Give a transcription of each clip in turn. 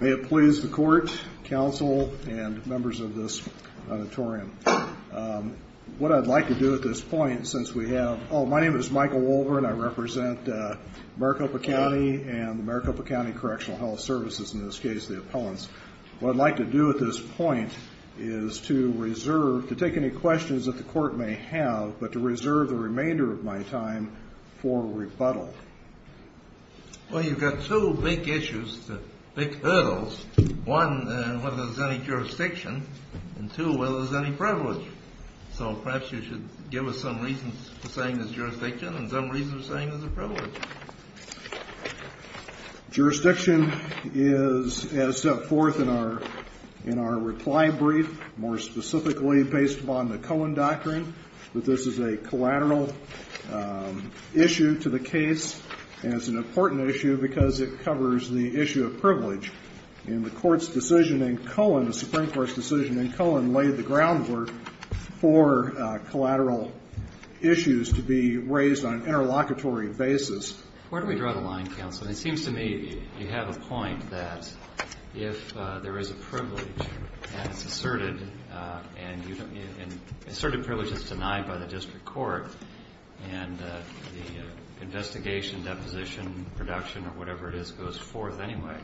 May it please the court, counsel, and members of this auditorium. What I'd like to do at this point, since we have, oh, my name is Michael Wolverine, I represent Maricopa County and Maricopa County Correctional Health Services, in this case the appellants. What I'd like to do at this point is to reserve, to take any questions that the court may have, but to reserve the remainder of my time for rebuttal. Well, you've got two big issues, big hurdles. One, whether there's any jurisdiction, and two, whether there's any privilege. So perhaps you should give us some reasons for saying there's jurisdiction and some reasons for saying there's a privilege. Jurisdiction is as set forth in our reply brief, more specifically based upon the Cohen doctrine, that this is a collateral issue to the case, and it's an important issue because it covers the issue of privilege. And the court's decision in Cohen, the Supreme Court's decision in Cohen, laid the groundwork for collateral issues to be raised on an interlocutory basis. Where do we draw the line, counsel? It seems to me you have a point that if there is a privilege and it's asserted, and asserted privilege is denied by the district court, and the investigation, deposition, production, or whatever it is goes forth anyway,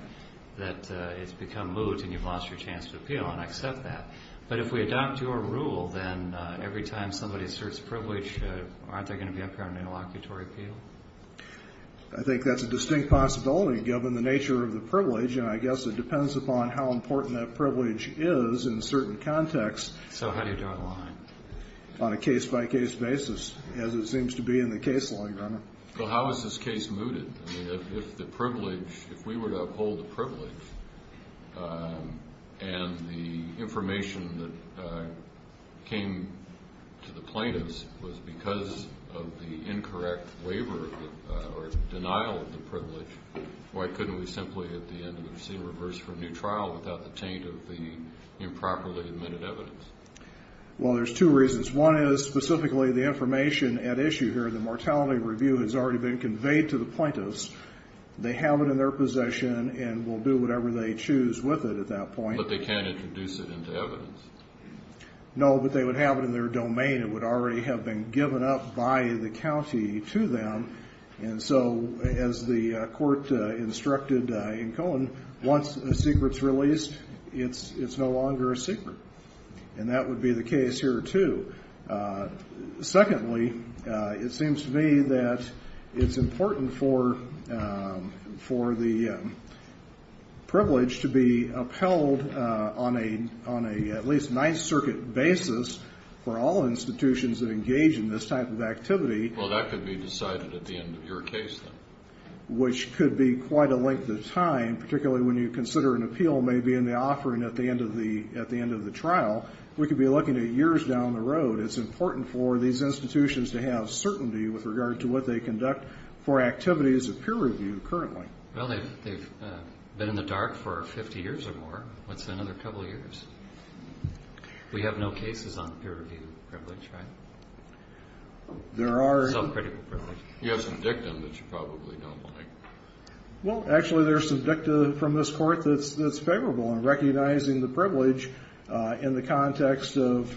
that it's become moot and you've lost your chance to appeal, and I accept that. But if we adopt your rule, then every time somebody asserts privilege, aren't they going to be up here on an interlocutory appeal? I think that's a distinct possibility, given the nature of the privilege, and I guess it depends upon how important that privilege is in certain contexts. So how do you draw the line? On a case-by-case basis, as it seems to be in the case law, Your Honor. Well, how is this case mooted? I mean, if the privilege, if we were to uphold the privilege, and the information that came to the plaintiffs was because of the incorrect waiver or denial of the privilege, why couldn't we simply at the end of the proceeding reverse for a new trial without the taint of the improperly admitted evidence? Well, there's two reasons. One is specifically the information at issue here. The mortality review has already been conveyed to the plaintiffs. They have it in their possession and will do whatever they choose with it at that point. But they can't introduce it into evidence. No, but they would have it in their domain. It would already have been given up by the county to them, and so as the court instructed in Cohen, once a secret's released, it's no longer a secret. And that would be the case here, too. Secondly, it seems to me that it's important for the privilege to be upheld on a at least Ninth Circuit basis for all institutions that engage in this type of activity. Well, that could be decided at the end of your case, then. Which could be quite a length of time, particularly when you consider an appeal may be in the offering at the end of the trial. We could be looking at years down the road. It's important for these institutions to have certainty with regard to what they conduct for activities of peer review currently. Well, they've been in the dark for 50 years or more. What's another couple of years? We have no cases on peer review privilege, right? There are. Self-critical privilege. You have some dicta that you probably don't like. Well, actually, there's some dicta from this court that's favorable in recognizing the privilege in the context of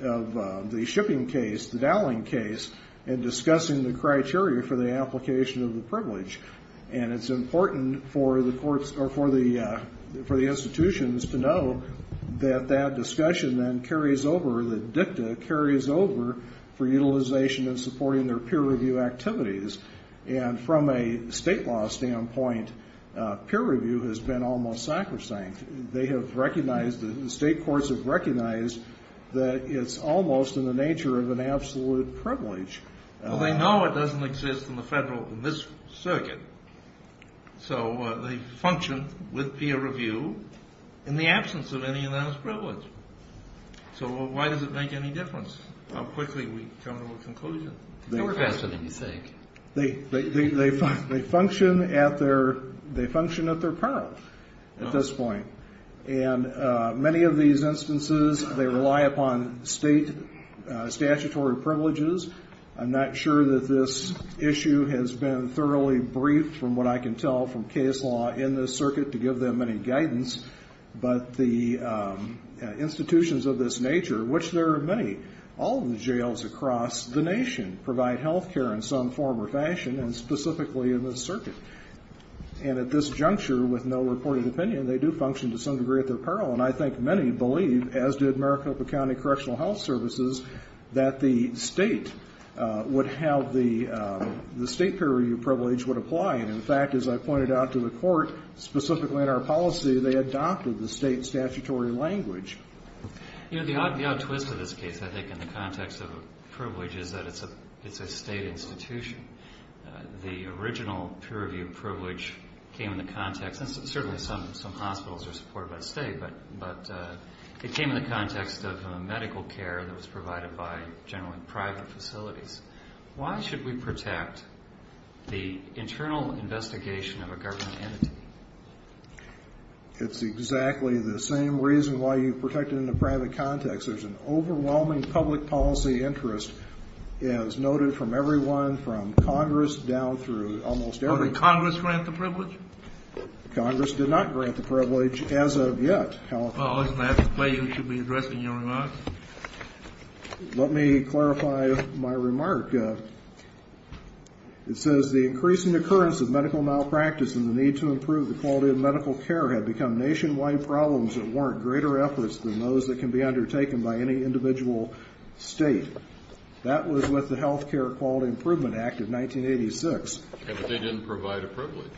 the shipping case, the dowling case, and discussing the criteria for the application of the privilege. And it's important for the institutions to know that that discussion then carries over, that dicta carries over for utilization in supporting their peer review activities. And from a state law standpoint, peer review has been almost sacrosanct. They have recognized, the state courts have recognized that it's almost in the nature of an absolute privilege. Well, they know it doesn't exist in the federal, in this circuit. So they function with peer review in the absence of any unanimous privilege. So why does it make any difference how quickly we come to a conclusion? They work faster than you think. They function at their peril at this point. And many of these instances, they rely upon state statutory privileges. I'm not sure that this issue has been thoroughly briefed, from what I can tell from case law in this circuit, to give them any guidance. But the institutions of this nature, which there are many, all of the jails across the nation, provide health care in some form or fashion, and specifically in this circuit. And at this juncture, with no reported opinion, they do function to some degree at their peril. And I think many believe, as did Maricopa County Correctional Health Services, that the state would have the state peer review privilege would apply. And, in fact, as I pointed out to the court, specifically in our policy, they adopted the state statutory language. You know, the odd twist of this case, I think, in the context of privilege is that it's a state institution. The original peer review privilege came in the context, and certainly some hospitals are supported by the state, but it came in the context of medical care that was provided by generally private facilities. Why should we protect the internal investigation of a government entity? It's exactly the same reason why you protect it in a private context. There's an overwhelming public policy interest, as noted from everyone from Congress down through almost every group. Didn't Congress grant the privilege? Congress did not grant the privilege as of yet. Well, isn't that the way you should be addressing your remarks? Let me clarify my remark. It says the increasing occurrence of medical malpractice and the need to improve the quality of medical care had become nationwide problems that warrant greater efforts than those that can be undertaken by any individual state. That was with the Health Care Quality Improvement Act of 1986. And they didn't provide a privilege.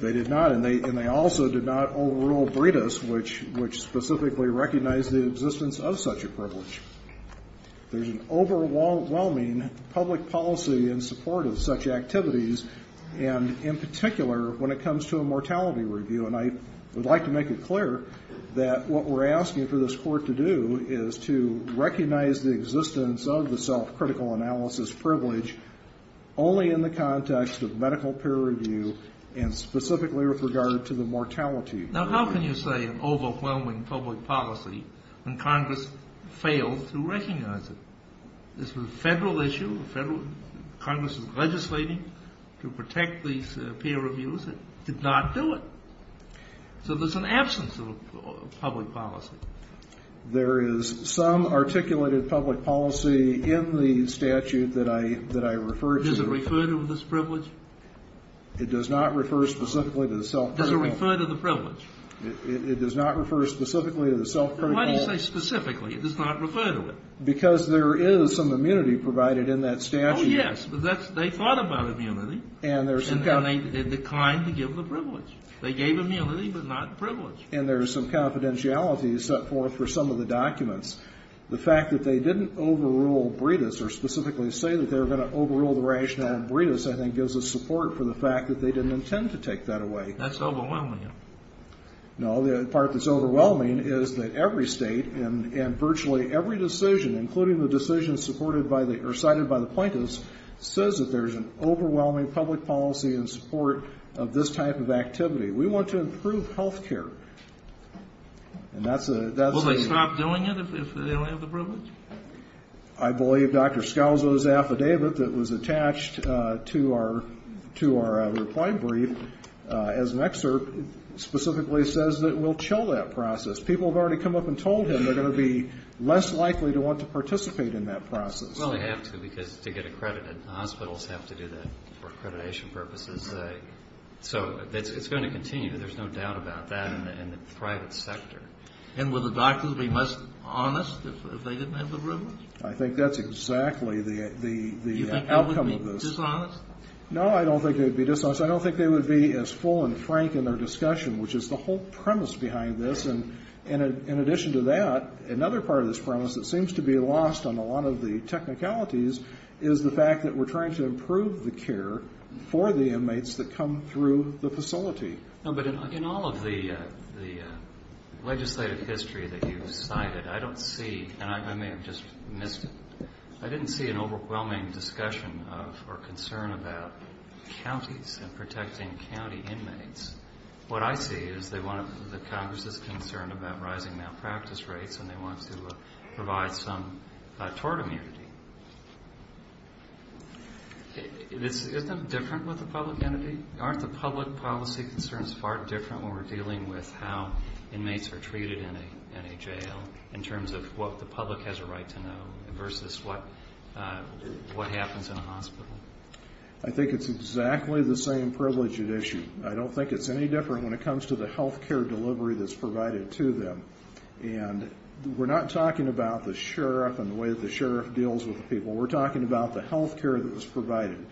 They did not, and they also did not overrule BRITIS, which specifically recognized the existence of such a privilege. There's an overwhelming public policy in support of such activities, and in particular when it comes to a mortality review. And I would like to make it clear that what we're asking for this Court to do is to recognize the existence of the self-critical analysis privilege only in the context of medical peer review and specifically with regard to the mortality. Now, how can you say an overwhelming public policy when Congress failed to recognize it? This was a federal issue. Congress was legislating to protect these peer reviews. It did not do it. So there's an absence of public policy. There is some articulated public policy in the statute that I refer to. Does it refer to this privilege? It does not refer specifically to the self-critical. Does it refer to the privilege? It does not refer specifically to the self-critical. Then why do you say specifically? It does not refer to it. Because there is some immunity provided in that statute. Oh, yes. They thought about immunity, and they declined to give the privilege. They gave immunity, but not privilege. And there's some confidentiality set forth for some of the documents. The fact that they didn't overrule Bredis or specifically say that they were going to overrule the rationale in Bredis, I think, gives us support for the fact that they didn't intend to take that away. That's overwhelming. No, the part that's overwhelming is that every state and virtually every decision, including the decision cited by the plaintiffs, says that there's an overwhelming public policy in support of this type of activity. We want to improve health care. And that's a ñ Will they stop doing it if they don't have the privilege? I believe Dr. Scalzo's affidavit that was attached to our reply brief as an excerpt specifically says that we'll chill that process. People have already come up and told him they're going to be less likely to want to participate in that process. Well, they have to, because to get accredited, hospitals have to do that for accreditation purposes. So it's going to continue. There's no doubt about that in the private sector. And will the doctors be less honest if they didn't have the privilege? I think that's exactly the outcome of this. You think they would be dishonest? No, I don't think they would be dishonest. I don't think they would be as full and frank in their discussion, which is the whole premise behind this. And in addition to that, another part of this premise that seems to be lost on a lot of the technicalities is the fact that we're trying to improve the care for the inmates that come through the facility. No, but in all of the legislative history that you've cited, I don't see, and I may have just missed it, I didn't see an overwhelming discussion of or concern about counties and protecting county inmates. What I see is that Congress is concerned about rising malpractice rates and they want to provide some tort immunity. Isn't it different with the public entity? Aren't the public policy concerns far different when we're dealing with how inmates are treated in a jail in terms of what the public has a right to know versus what happens in a hospital? I think it's exactly the same privileged issue. I don't think it's any different when it comes to the health care delivery that's provided to them. And we're not talking about the sheriff and the way that the sheriff deals with the people. We're talking about the health care that was provided.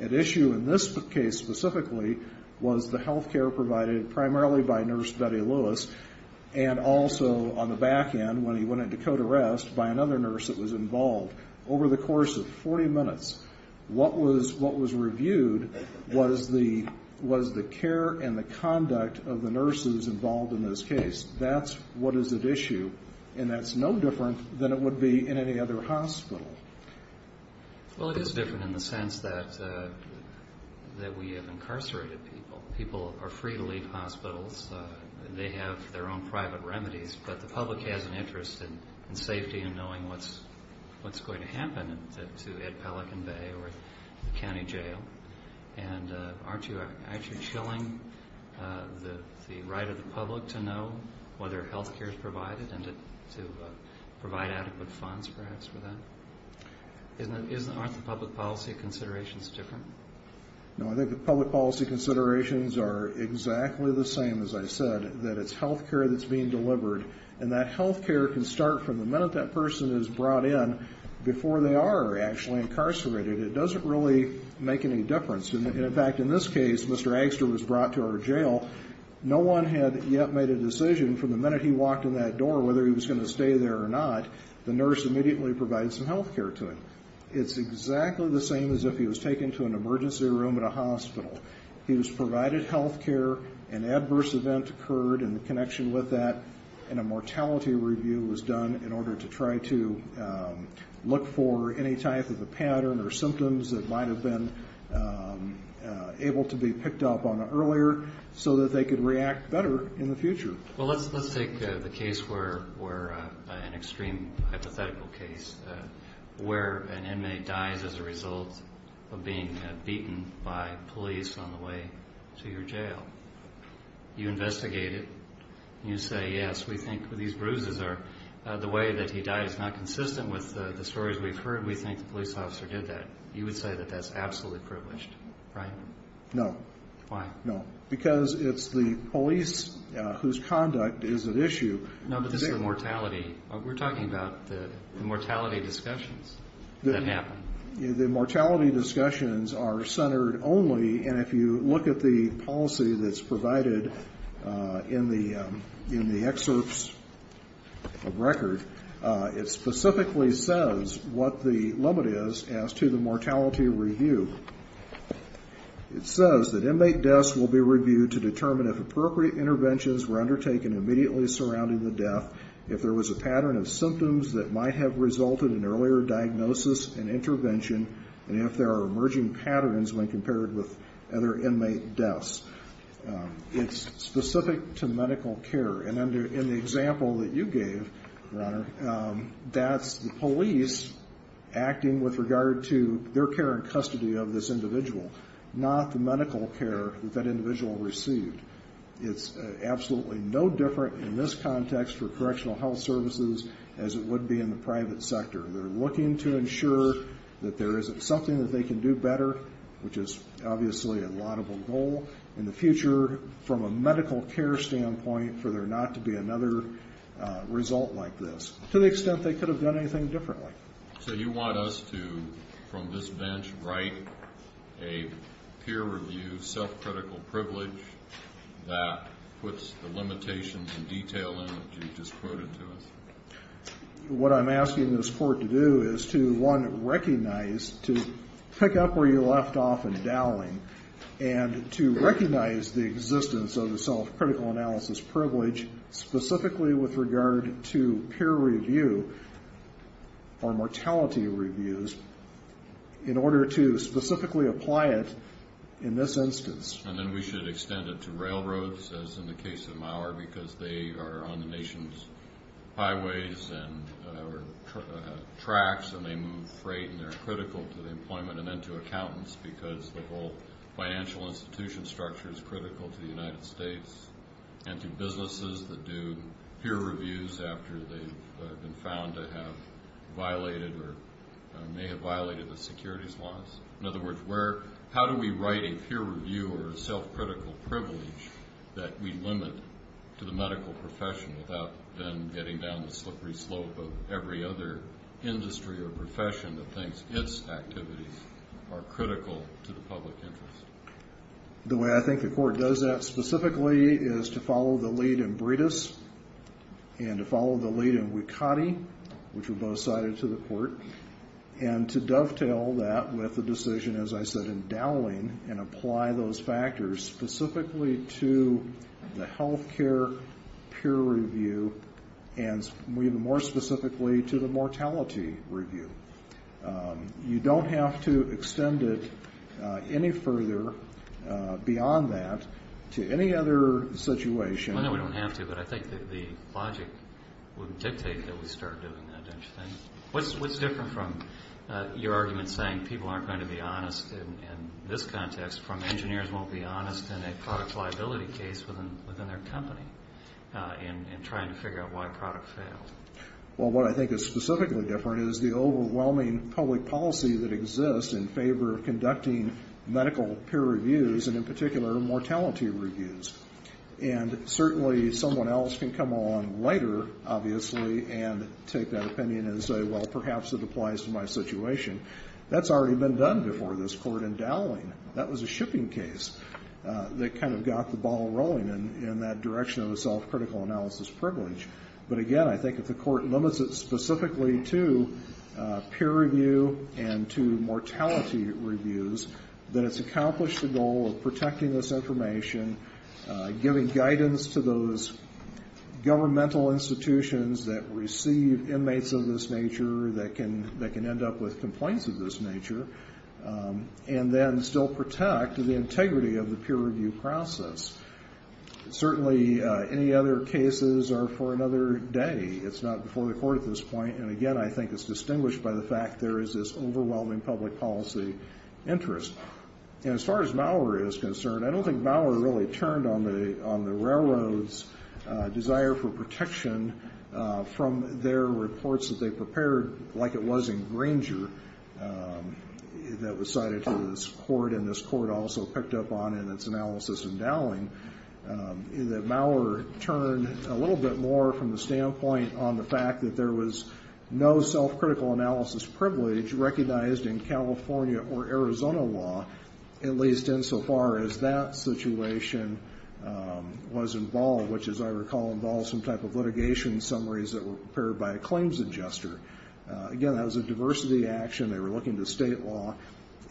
At issue in this case specifically was the health care provided primarily by Nurse Betty Lewis and also on the back end when he went into code arrest by another nurse that was involved. Over the course of 40 minutes, what was reviewed was the care and the conduct of the nurses involved in this case. That's what is at issue. And that's no different than it would be in any other hospital. Well, it is different in the sense that we have incarcerated people. People are free to leave hospitals. They have their own private remedies. But the public has an interest in safety and knowing what's going to happen to Ed Pelican Bay or the county jail. And aren't you actually chilling the right of the public to know whether health care is provided and to provide adequate funds perhaps for that? Aren't the public policy considerations different? No, I think the public policy considerations are exactly the same, as I said, that it's health care that's being delivered. And that health care can start from the minute that person is brought in before they are actually incarcerated. It doesn't really make any difference. In fact, in this case, Mr. Eggster was brought to our jail. No one had yet made a decision from the minute he walked in that door whether he was going to stay there or not. The nurse immediately provided some health care to him. It's exactly the same as if he was taken to an emergency room at a hospital. He was provided health care. An adverse event occurred in connection with that, and a mortality review was done in order to try to look for any type of a pattern or symptoms that might have been able to be picked up on earlier so that they could react better in the future. Well, let's take the case where an extreme hypothetical case where an inmate dies as a result of being beaten by police on the way to your jail. You investigate it, and you say, yes, we think these bruises are the way that he died. It's not consistent with the stories we've heard. We think the police officer did that. You would say that that's absolutely privileged, right? No. Why? No, because it's the police whose conduct is at issue. No, but this is a mortality. We're talking about the mortality discussions that happen. The mortality discussions are centered only, and if you look at the policy that's provided in the excerpts of record, it specifically says what the limit is as to the mortality review. It says that inmate deaths will be reviewed to determine if appropriate interventions were undertaken immediately surrounding the death, if there was a pattern of symptoms that might have resulted in earlier diagnosis and intervention, and if there are emerging patterns when compared with other inmate deaths. It's specific to medical care. And in the example that you gave, Your Honor, that's the police acting with regard to their care and custody of this individual, not the medical care that that individual received. It's absolutely no different in this context for correctional health services as it would be in the private sector. They're looking to ensure that there isn't something that they can do better, which is obviously a laudable goal in the future from a medical care standpoint for there not to be another result like this, to the extent they could have done anything differently. So you want us to, from this bench, write a peer-reviewed self-critical privilege that puts the limitations and detail in it that you just quoted to us? What I'm asking this Court to do is to, one, recognize, to pick up where you left off in Dowling, and to recognize the existence of the self-critical analysis privilege specifically with regard to peer review or mortality reviews in order to specifically apply it in this instance. And then we should extend it to railroads, as in the case of Maurer, because they are on the nation's highways and tracks, and they move freight, and they're critical to the employment, and then to accountants because the whole financial institution structure is critical to the United States, and to businesses that do peer reviews after they've been found to have violated or may have violated the securities laws. In other words, how do we write a peer review or a self-critical privilege that we limit to the medical profession without then getting down the slippery slope of every other industry or profession that thinks its activities are critical to the public interest? The way I think the Court does that specifically is to follow the lead in Bredis and to follow the lead in Wikati, which were both cited to the Court, and to dovetail that with the decision, as I said, in Dowling, and apply those factors specifically to the health care peer review and even more specifically to the mortality review. You don't have to extend it any further beyond that to any other situation. Well, no, we don't have to, but I think that the logic would dictate that we start doing that, don't you think? What's different from your argument saying people aren't going to be honest in this context from engineers won't be honest in a product liability case within their company in trying to figure out why a product failed? Well, what I think is specifically different is the overwhelming public policy that exists in favor of conducting medical peer reviews and, in particular, mortality reviews. And certainly someone else can come along later, obviously, and take that opinion and say, well, perhaps it applies to my situation. That's already been done before this Court in Dowling. That was a shipping case that kind of got the ball rolling in that direction of a self-critical analysis privilege. But, again, I think if the Court limits it specifically to peer review and to mortality reviews, then it's accomplished the goal of protecting this information, giving guidance to those governmental institutions that receive inmates of this nature that can end up with complaints of this nature, and then still protect the integrity of the peer review process. Certainly any other cases are for another day. It's not before the Court at this point, and, again, I think it's distinguished by the fact there is this overwhelming public policy interest. And as far as Maurer is concerned, I don't think Maurer really turned on the railroads' desire for protection from their reports that they prepared like it was in Granger that was cited to this Court, and this Court also picked up on in its analysis in Dowling, that Maurer turned a little bit more from the standpoint on the fact that there was no self-critical analysis privilege recognized in California or Arizona law, at least insofar as that situation was involved, which, as I recall, involved some type of litigation summaries that were prepared by a claims adjuster. Again, that was a diversity action. They were looking to state law.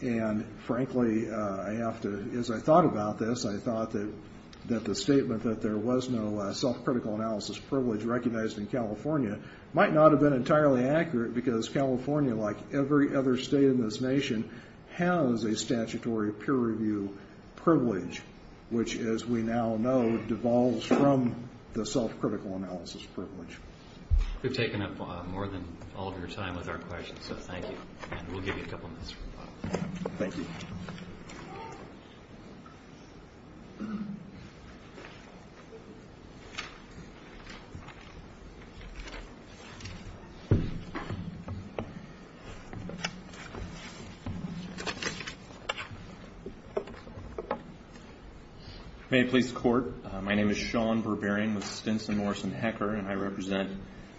And, frankly, I have to, as I thought about this, I thought that the statement that there was no self-critical analysis privilege recognized in California might not have been entirely accurate, because California, like every other state in this nation, has a statutory peer review privilege, which, as we now know, devolves from the self-critical analysis privilege. We've taken up more than all of your time with our questions, so thank you. And we'll give you a couple minutes. Thank you. May it please the Court, my name is Sean Berberian with Stinson, Morris & Hecker, and I represent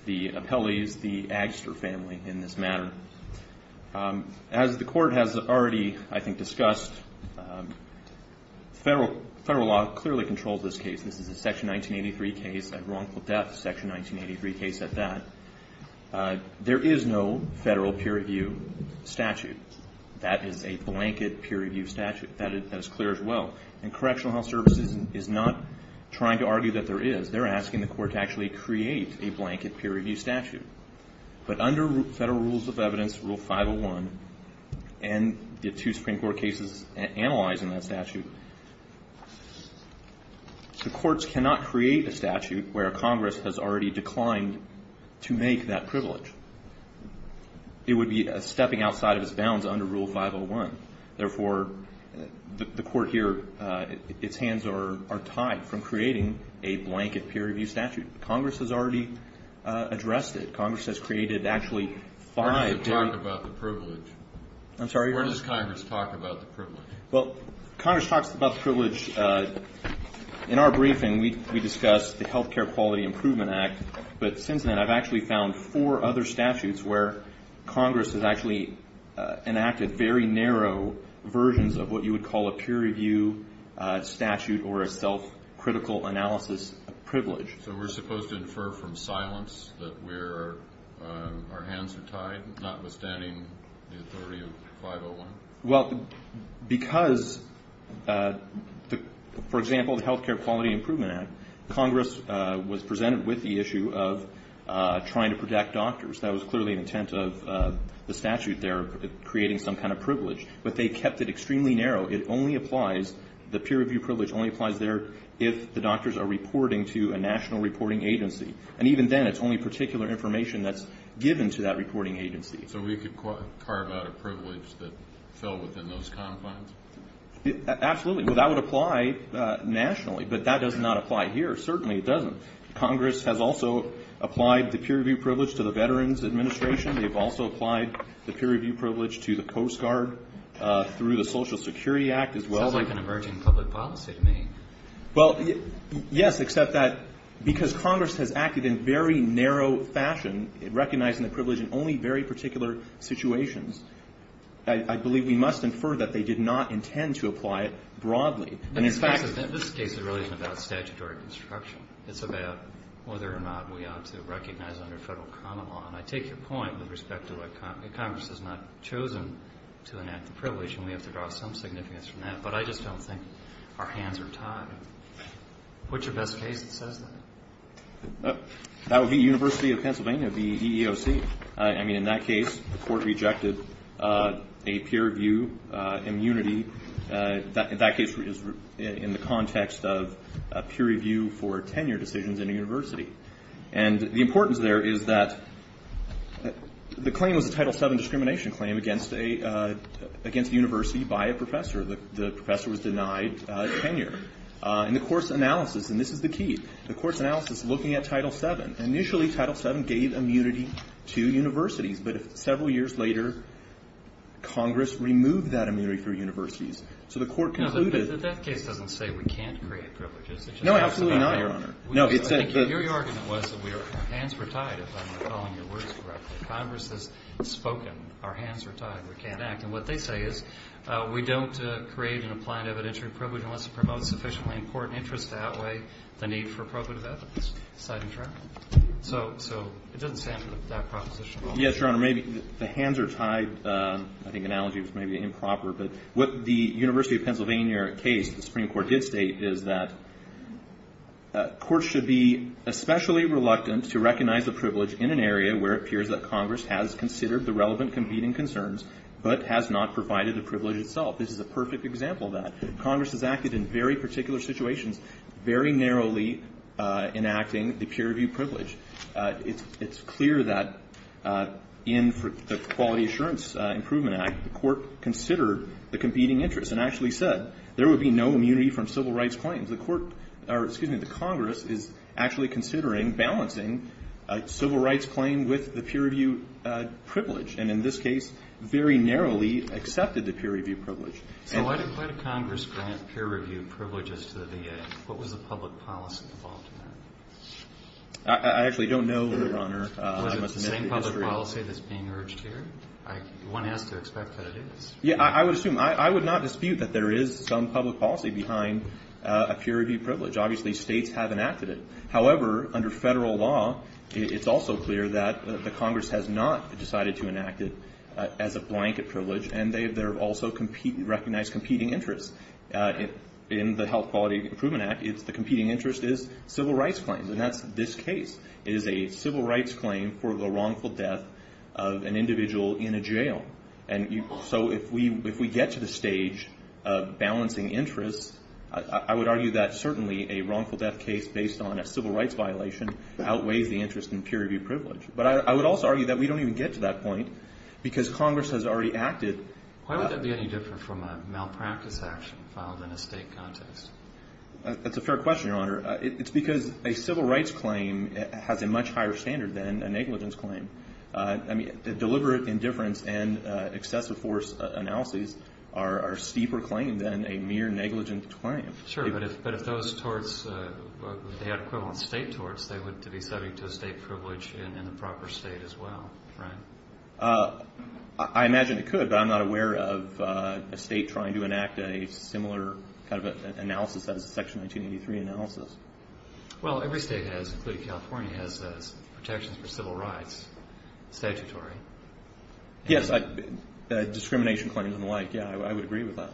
the Appellees, the Agster family in this matter. As the Court has already, I think, discussed, federal law clearly controls this case. This is a Section 1983 case, a wrongful death Section 1983 case at that. There is no federal peer review statute. That is a blanket peer review statute. That is clear as well. And Correctional Health Services is not trying to argue that there is. They're asking the Court to actually create a blanket peer review statute. But under Federal Rules of Evidence Rule 501, and the two Supreme Court cases analyzed in that statute, the Courts cannot create a statute where Congress has already declined to make that privilege. It would be stepping outside of its bounds under Rule 501. Therefore, the Court here, its hands are tied from creating a blanket peer review statute. Congress has already addressed it. Congress has created actually five. Where does it talk about the privilege? I'm sorry? Where does Congress talk about the privilege? Well, Congress talks about the privilege. In our briefing, we discussed the Health Care Quality Improvement Act. But since then, I've actually found four other statutes where Congress has actually enacted very narrow versions of what you would call a peer review statute or a self-critical analysis privilege. So we're supposed to infer from silence that our hands are tied, notwithstanding the authority of 501? Well, because, for example, the Health Care Quality Improvement Act, Congress was presented with the issue of trying to protect doctors. That was clearly an intent of the statute there, creating some kind of privilege. But they kept it extremely narrow. It only applies, the peer review privilege only applies there if the doctors are reporting to a national reporting agency. And even then, it's only particular information that's given to that reporting agency. So we could carve out a privilege that fell within those confines? Absolutely. Well, that would apply nationally. But that does not apply here. Certainly it doesn't. Congress has also applied the peer review privilege to the Veterans Administration. They've also applied the peer review privilege to the Post Guard through the Social Security Act as well. Sounds like an emerging public policy to me. Well, yes, except that because Congress has acted in very narrow fashion, recognizing the privilege in only very particular situations. I believe we must infer that they did not intend to apply it broadly. And in fact the case is really about statutory construction. It's about whether or not we ought to recognize under Federal common law. And I take your point with respect to why Congress has not chosen to enact the privilege. And we have to draw some significance from that. But I just don't think our hands are tied. What's your best case that says that? That would be University of Pennsylvania, the EEOC. I mean, in that case the court rejected a peer review immunity. That case is in the context of peer review for tenure decisions in a university. And the importance there is that the claim was a Title VII discrimination claim against a university by a professor. The professor was denied tenure. And the court's analysis, and this is the key, the court's analysis looking at Title VII, initially Title VII gave immunity to universities. But several years later Congress removed that immunity for universities. So the court concluded. No, but that case doesn't say we can't create privileges. No, absolutely not, Your Honor. I think your argument was that our hands were tied, if I'm recalling your words correctly. Congress has spoken. Our hands are tied. We can't act. And what they say is we don't create and apply an evidentiary privilege unless it promotes sufficiently important interest to outweigh the need for probative evidence. So it doesn't stand with that proposition. Yes, Your Honor, maybe the hands are tied. I think the analogy was maybe improper. But what the University of Pennsylvania case, the Supreme Court did state, is that courts should be especially reluctant to recognize a privilege in an area where it appears that Congress has not provided the privilege itself. This is a perfect example of that. Congress has acted in very particular situations, very narrowly enacting the peer review privilege. It's clear that in the Quality Assurance Improvement Act the court considered the competing interest and actually said there would be no immunity from civil rights claims. The court or, excuse me, the Congress is actually considering balancing a civil rights claim with the peer review privilege. And in this case, very narrowly accepted the peer review privilege. So why did Congress grant peer review privileges to the VA? What was the public policy involved in that? I actually don't know, Your Honor. Was it the same public policy that's being urged here? One has to expect that it is. Yes, I would assume. I would not dispute that there is some public policy behind a peer review privilege. Obviously, states have enacted it. However, under federal law, it's also clear that the Congress has not decided to enact it as a blanket privilege, and they have also recognized competing interests. In the Health Quality Improvement Act, the competing interest is civil rights claims, and that's this case. It is a civil rights claim for the wrongful death of an individual in a jail. And so if we get to the stage of balancing interests, I would argue that certainly a wrongful death case based on a civil rights violation outweighs the interest in peer review privilege. But I would also argue that we don't even get to that point because Congress has already acted. Why would that be any different from a malpractice action filed in a state context? That's a fair question, Your Honor. It's because a civil rights claim has a much higher standard than a negligence claim. Deliberate indifference and excessive force analyses are a steeper claim than a mere negligence claim. Sure, but if those torts, if they had equivalent state torts, they would be subject to a state privilege in the proper state as well, right? I imagine it could, but I'm not aware of a state trying to enact a similar kind of analysis as a Section 1983 analysis. Well, every state has, including California, has protections for civil rights, statutory. Yes, discrimination claims and the like. Yeah, I would agree with that.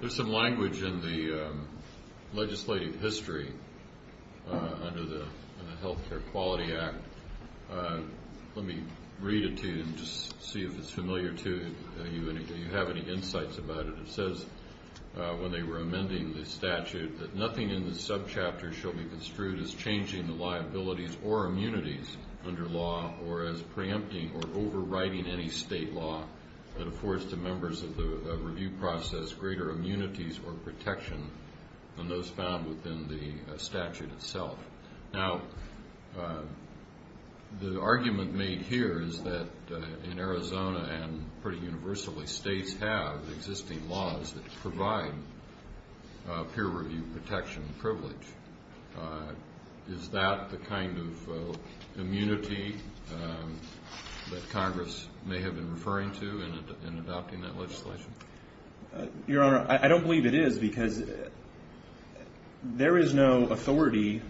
There's some language in the legislative history under the Health Care Quality Act. Let me read it to you and just see if it's familiar to you. Do you have any insights about it? It says, when they were amending the statute, that nothing in this subchapter shall be construed as changing the liabilities or immunities under law or as preempting or overriding any state law that affords to members of the review process greater immunities or protection than those found within the statute itself. Now, the argument made here is that in Arizona and pretty universally, states have existing laws that provide peer review protection and privilege. Is that the kind of immunity that Congress may have been referring to in adopting that legislation? Your Honor, I don't believe it is because there is no authority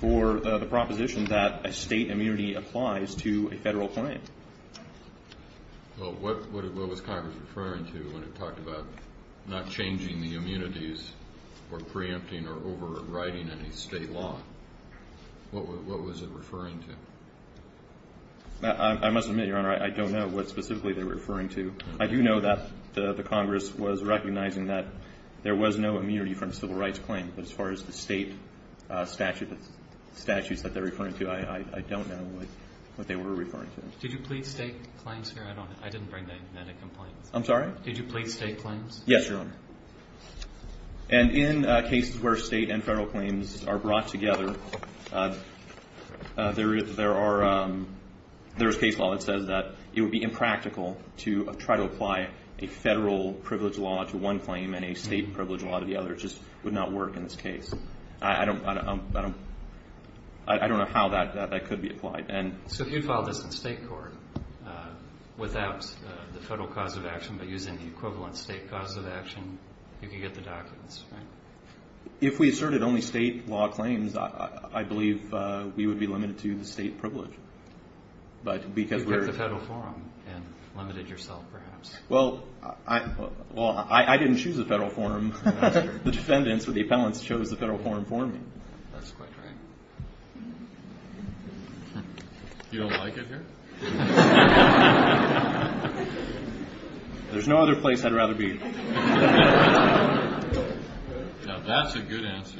for the proposition that a state immunity applies to a federal claim. Well, what was Congress referring to when it talked about not changing the immunities or preempting or overriding any state law? What was it referring to? I must admit, Your Honor, I don't know what specifically they were referring to. I do know that the Congress was recognizing that there was no immunity from a civil rights claim, but as far as the state statutes that they're referring to, I don't know what they were referring to. Did you plead state claims here? I didn't bring that in a complaint. I'm sorry? Did you plead state claims? Yes, Your Honor. And in cases where state and federal claims are brought together, there is case law that says that it would be impractical to try to apply a federal privilege law to one claim and a state privilege law to the other. It just would not work in this case. I don't know how that could be applied. So if you filed this in state court without the federal cause of action but using the equivalent state cause of action, you could get the documents, right? If we asserted only state law claims, I believe we would be limited to the state privilege. You kept the federal forum and limited yourself, perhaps. Well, I didn't choose the federal forum. The defendants or the appellants chose the federal forum for me. That's quite right. You don't like it here? There's no other place I'd rather be. Now, that's a good answer.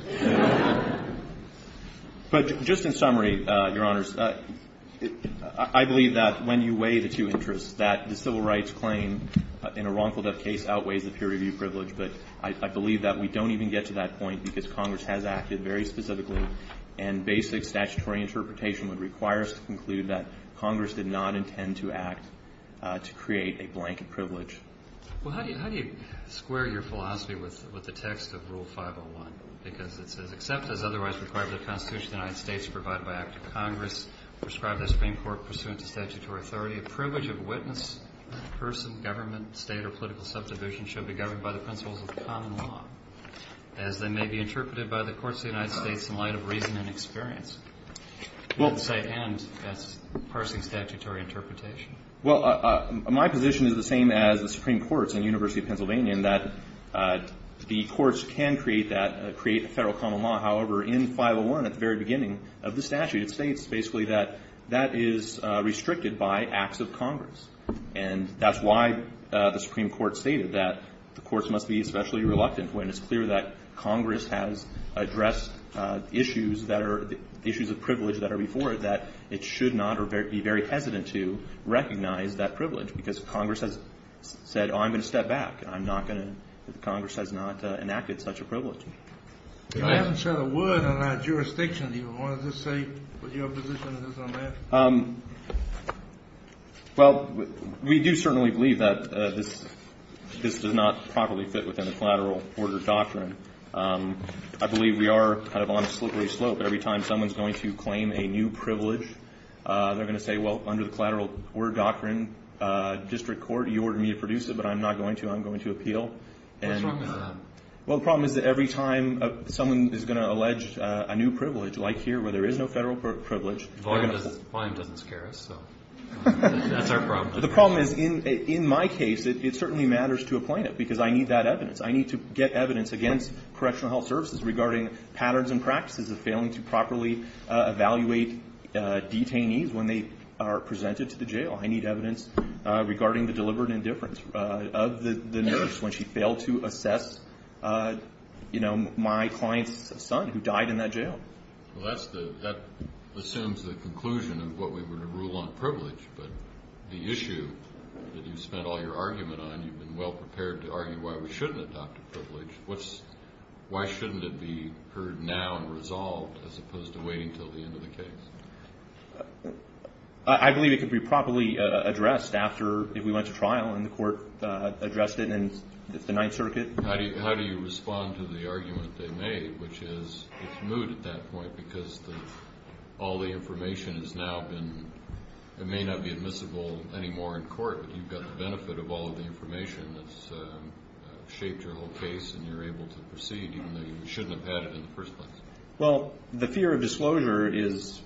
But just in summary, Your Honors, I believe that when you weigh the two interests, that the civil rights claim in a wrongful death case outweighs the peer review privilege, but I believe that we don't even get to that point because Congress has acted very specifically and basic statutory interpretation would require us to conclude that Congress didn't know and did not intend to act to create a blanket privilege. Well, how do you square your philosophy with the text of Rule 501? Because it says, Except as otherwise required by the Constitution of the United States, provided by act of Congress prescribed by the Supreme Court pursuant to statutory authority, a privilege of witness, person, government, state, or political subdivision should be governed by the principles of common law, as they may be interpreted by the courts of the United States in light of reason and experience. And that's parsing statutory interpretation. Well, my position is the same as the Supreme Court's in the University of Pennsylvania in that the courts can create that, create federal common law. However, in 501, at the very beginning of the statute, it states basically that that is restricted by acts of Congress. And that's why the Supreme Court stated that the courts must be especially reluctant when it's clear that Congress has addressed issues that are, issues of privilege that are before it, that it should not be very hesitant to recognize that privilege. Because if Congress has said, oh, I'm going to step back, I'm not going to, Congress has not enacted such a privilege. You haven't said a word on our jurisdiction. Do you want to just say what your position is on that? Well, we do certainly believe that this does not properly fit within the collateral order doctrine. I believe we are kind of on a slippery slope. Every time someone's going to claim a new privilege, they're going to say, well, under the collateral order doctrine, District Court, you ordered me to produce it, but I'm not going to. I'm going to appeal. What's wrong with that? Well, the problem is that every time someone is going to allege a new privilege, like here where there is no federal privilege, volume doesn't scare us, so that's our problem. The problem is, in my case, it certainly matters to a plaintiff because I need that evidence. I need to get evidence against Correctional Health Services regarding patterns and practices of failing to properly evaluate detainees when they are presented to the jail. I need evidence regarding the deliberate indifference of the nurse when she failed to assess, you know, my client's son who died in that jail. Well, that assumes the conclusion of what we were to rule on privilege, but the issue that you spent all your argument on, you've been well prepared to argue why we shouldn't adopt a privilege. Why shouldn't it be heard now and resolved as opposed to waiting until the end of the case? I believe it could be properly addressed if we went to trial and the court addressed it in the Ninth Circuit. How do you respond to the argument they made, which is it's moot at that point because all the information has now been, it may not be admissible anymore in court, but you've got the benefit of all of the information that's shaped your whole case and you're able to proceed even though you shouldn't have had it in the first place. Well, the fear of disclosure is,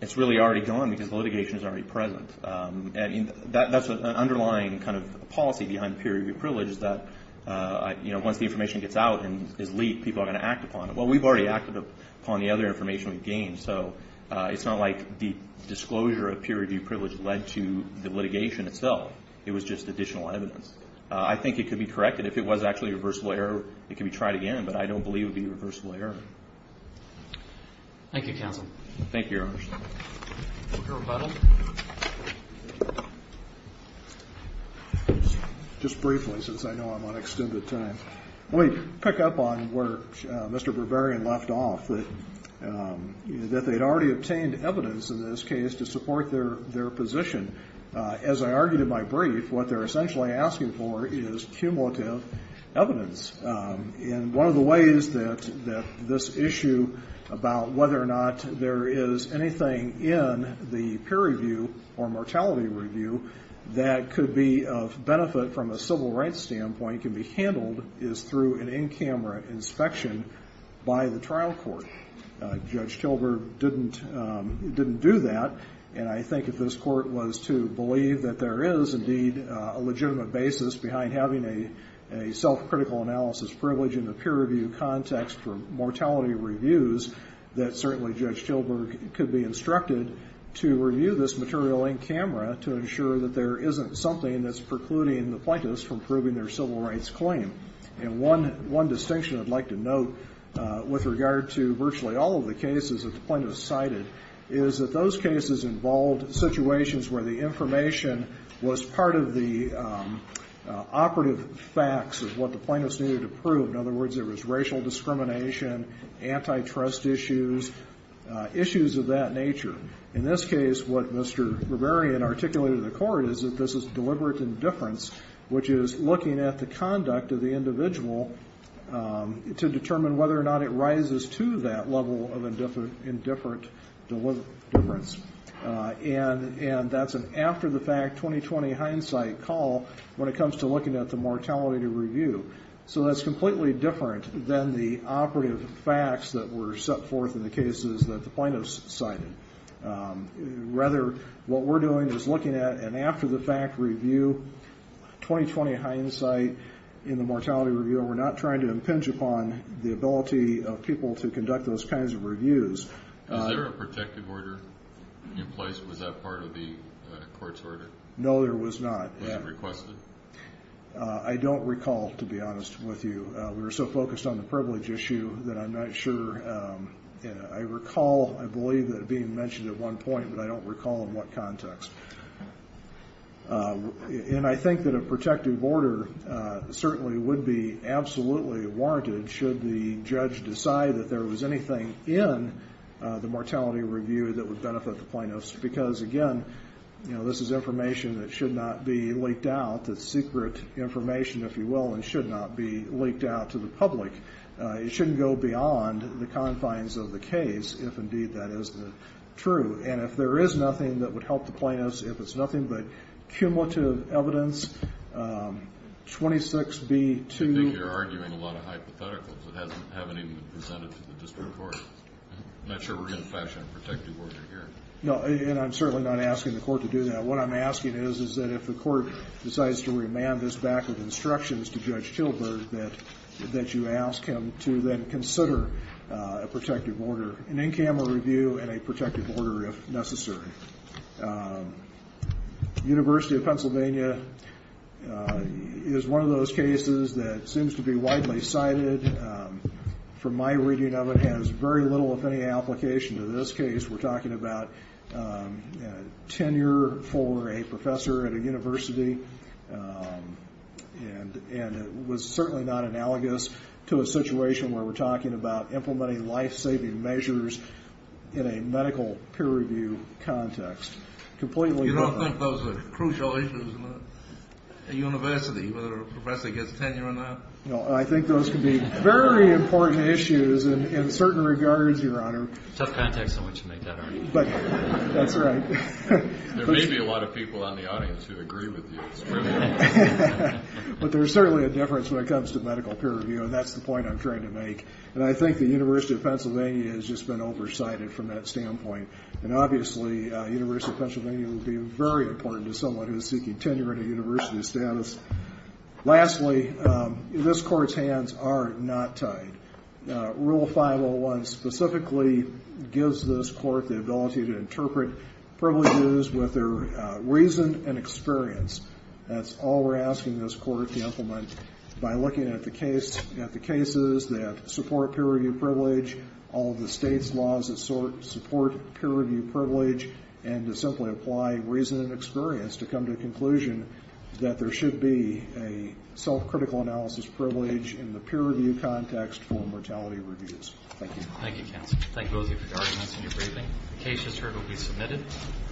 it's really already gone because litigation is already present. That's an underlying kind of policy behind peer review privilege is that, you know, once the information gets out and is leaked, people are going to act upon it. Well, we've already acted upon the other information we've gained, so it's not like the disclosure of peer review privilege led to the litigation itself. It was just additional evidence. I think it could be corrected. If it was actually a reversible error, it could be tried again, but I don't believe it would be a reversible error. Thank you, counsel. Thank you, Your Honor. Mr. Rebuttal. Just briefly, since I know I'm on extended time. Let me pick up on where Mr. Berberian left off, that they'd already obtained evidence in this case to support their position. As I argued in my brief, what they're essentially asking for is cumulative evidence. And one of the ways that this issue about whether or not there is anything in the peer review or mortality review that could be of benefit from a civil rights standpoint can be handled is through an in-camera inspection by the trial court. Judge Gilbert didn't do that, and I think if this court was to believe that there is, indeed, a legitimate basis behind having a self-critical analysis privilege in the peer review context for mortality reviews, that certainly Judge Gilbert could be instructed to review this material in-camera to ensure that there isn't something that's precluding the plaintiffs from proving their civil rights claim. And one distinction I'd like to note with regard to virtually all of the cases that the plaintiffs cited is that those cases involved situations where the information was part of the operative facts of what the plaintiffs needed to prove. In other words, there was racial discrimination, antitrust issues, issues of that nature. In this case, what Mr. Berberian articulated to the court is that this is deliberate indifference, which is looking at the conduct of the individual to determine whether or not it rises to that level of indifferent difference. And that's an after-the-fact, 20-20 hindsight call when it comes to looking at the mortality review. So that's completely different than the operative facts that were set forth in the cases that the plaintiffs cited. Rather, what we're doing is looking at an after-the-fact review, 20-20 hindsight in the mortality review, and we're not trying to impinge upon the ability of people to conduct those kinds of reviews. Is there a protective order in place? Was that part of the court's order? No, there was not. Was it requested? I don't recall, to be honest with you. We were so focused on the privilege issue that I'm not sure. I recall, I believe, it being mentioned at one point, but I don't recall in what context. And I think that a protective order certainly would be absolutely warranted should the judge decide that there was anything in the mortality review that would benefit the plaintiffs. Because, again, you know, this is information that should not be leaked out. It's secret information, if you will, and should not be leaked out to the public. It shouldn't go beyond the confines of the case, if indeed that is true. And if there is nothing that would help the plaintiffs, if it's nothing but cumulative evidence, 26B2. I think you're arguing a lot of hypotheticals that haven't even been presented to the district court. I'm not sure we're going to fashion a protective order here. No, and I'm certainly not asking the court to do that. What I'm asking is that if the court decides to remand this back with instructions to Judge Tilburg, that you ask him to then consider a protective order, an in-camera review, and a protective order if necessary. University of Pennsylvania is one of those cases that seems to be widely cited. From my reading of it, it has very little, if any, application to this case. We're talking about tenure for a professor at a university, and it was certainly not analogous to a situation where we're talking about You don't think those are crucial issues at a university, whether a professor gets tenure or not? No, I think those can be very important issues in certain regards, Your Honor. Tough context in which to make that argument. That's right. There may be a lot of people in the audience who agree with you. But there's certainly a difference when it comes to medical peer review, and that's the point I'm trying to make. And I think the University of Pennsylvania has just been oversighted from that standpoint. And obviously, University of Pennsylvania will be very important to someone who is seeking tenure in a university status. Lastly, this Court's hands are not tied. Rule 501 specifically gives this Court the ability to interpret privileges with their reason and experience. That's all we're asking this Court to implement by looking at the cases that support peer review privilege, all of the state's laws that support peer review privilege, and to simply apply reason and experience to come to the conclusion that there should be a self-critical analysis privilege in the peer review context for mortality reviews. Thank you. Thank you, counsel. Thank both of you for your arguments and your briefing. The case is here to be submitted.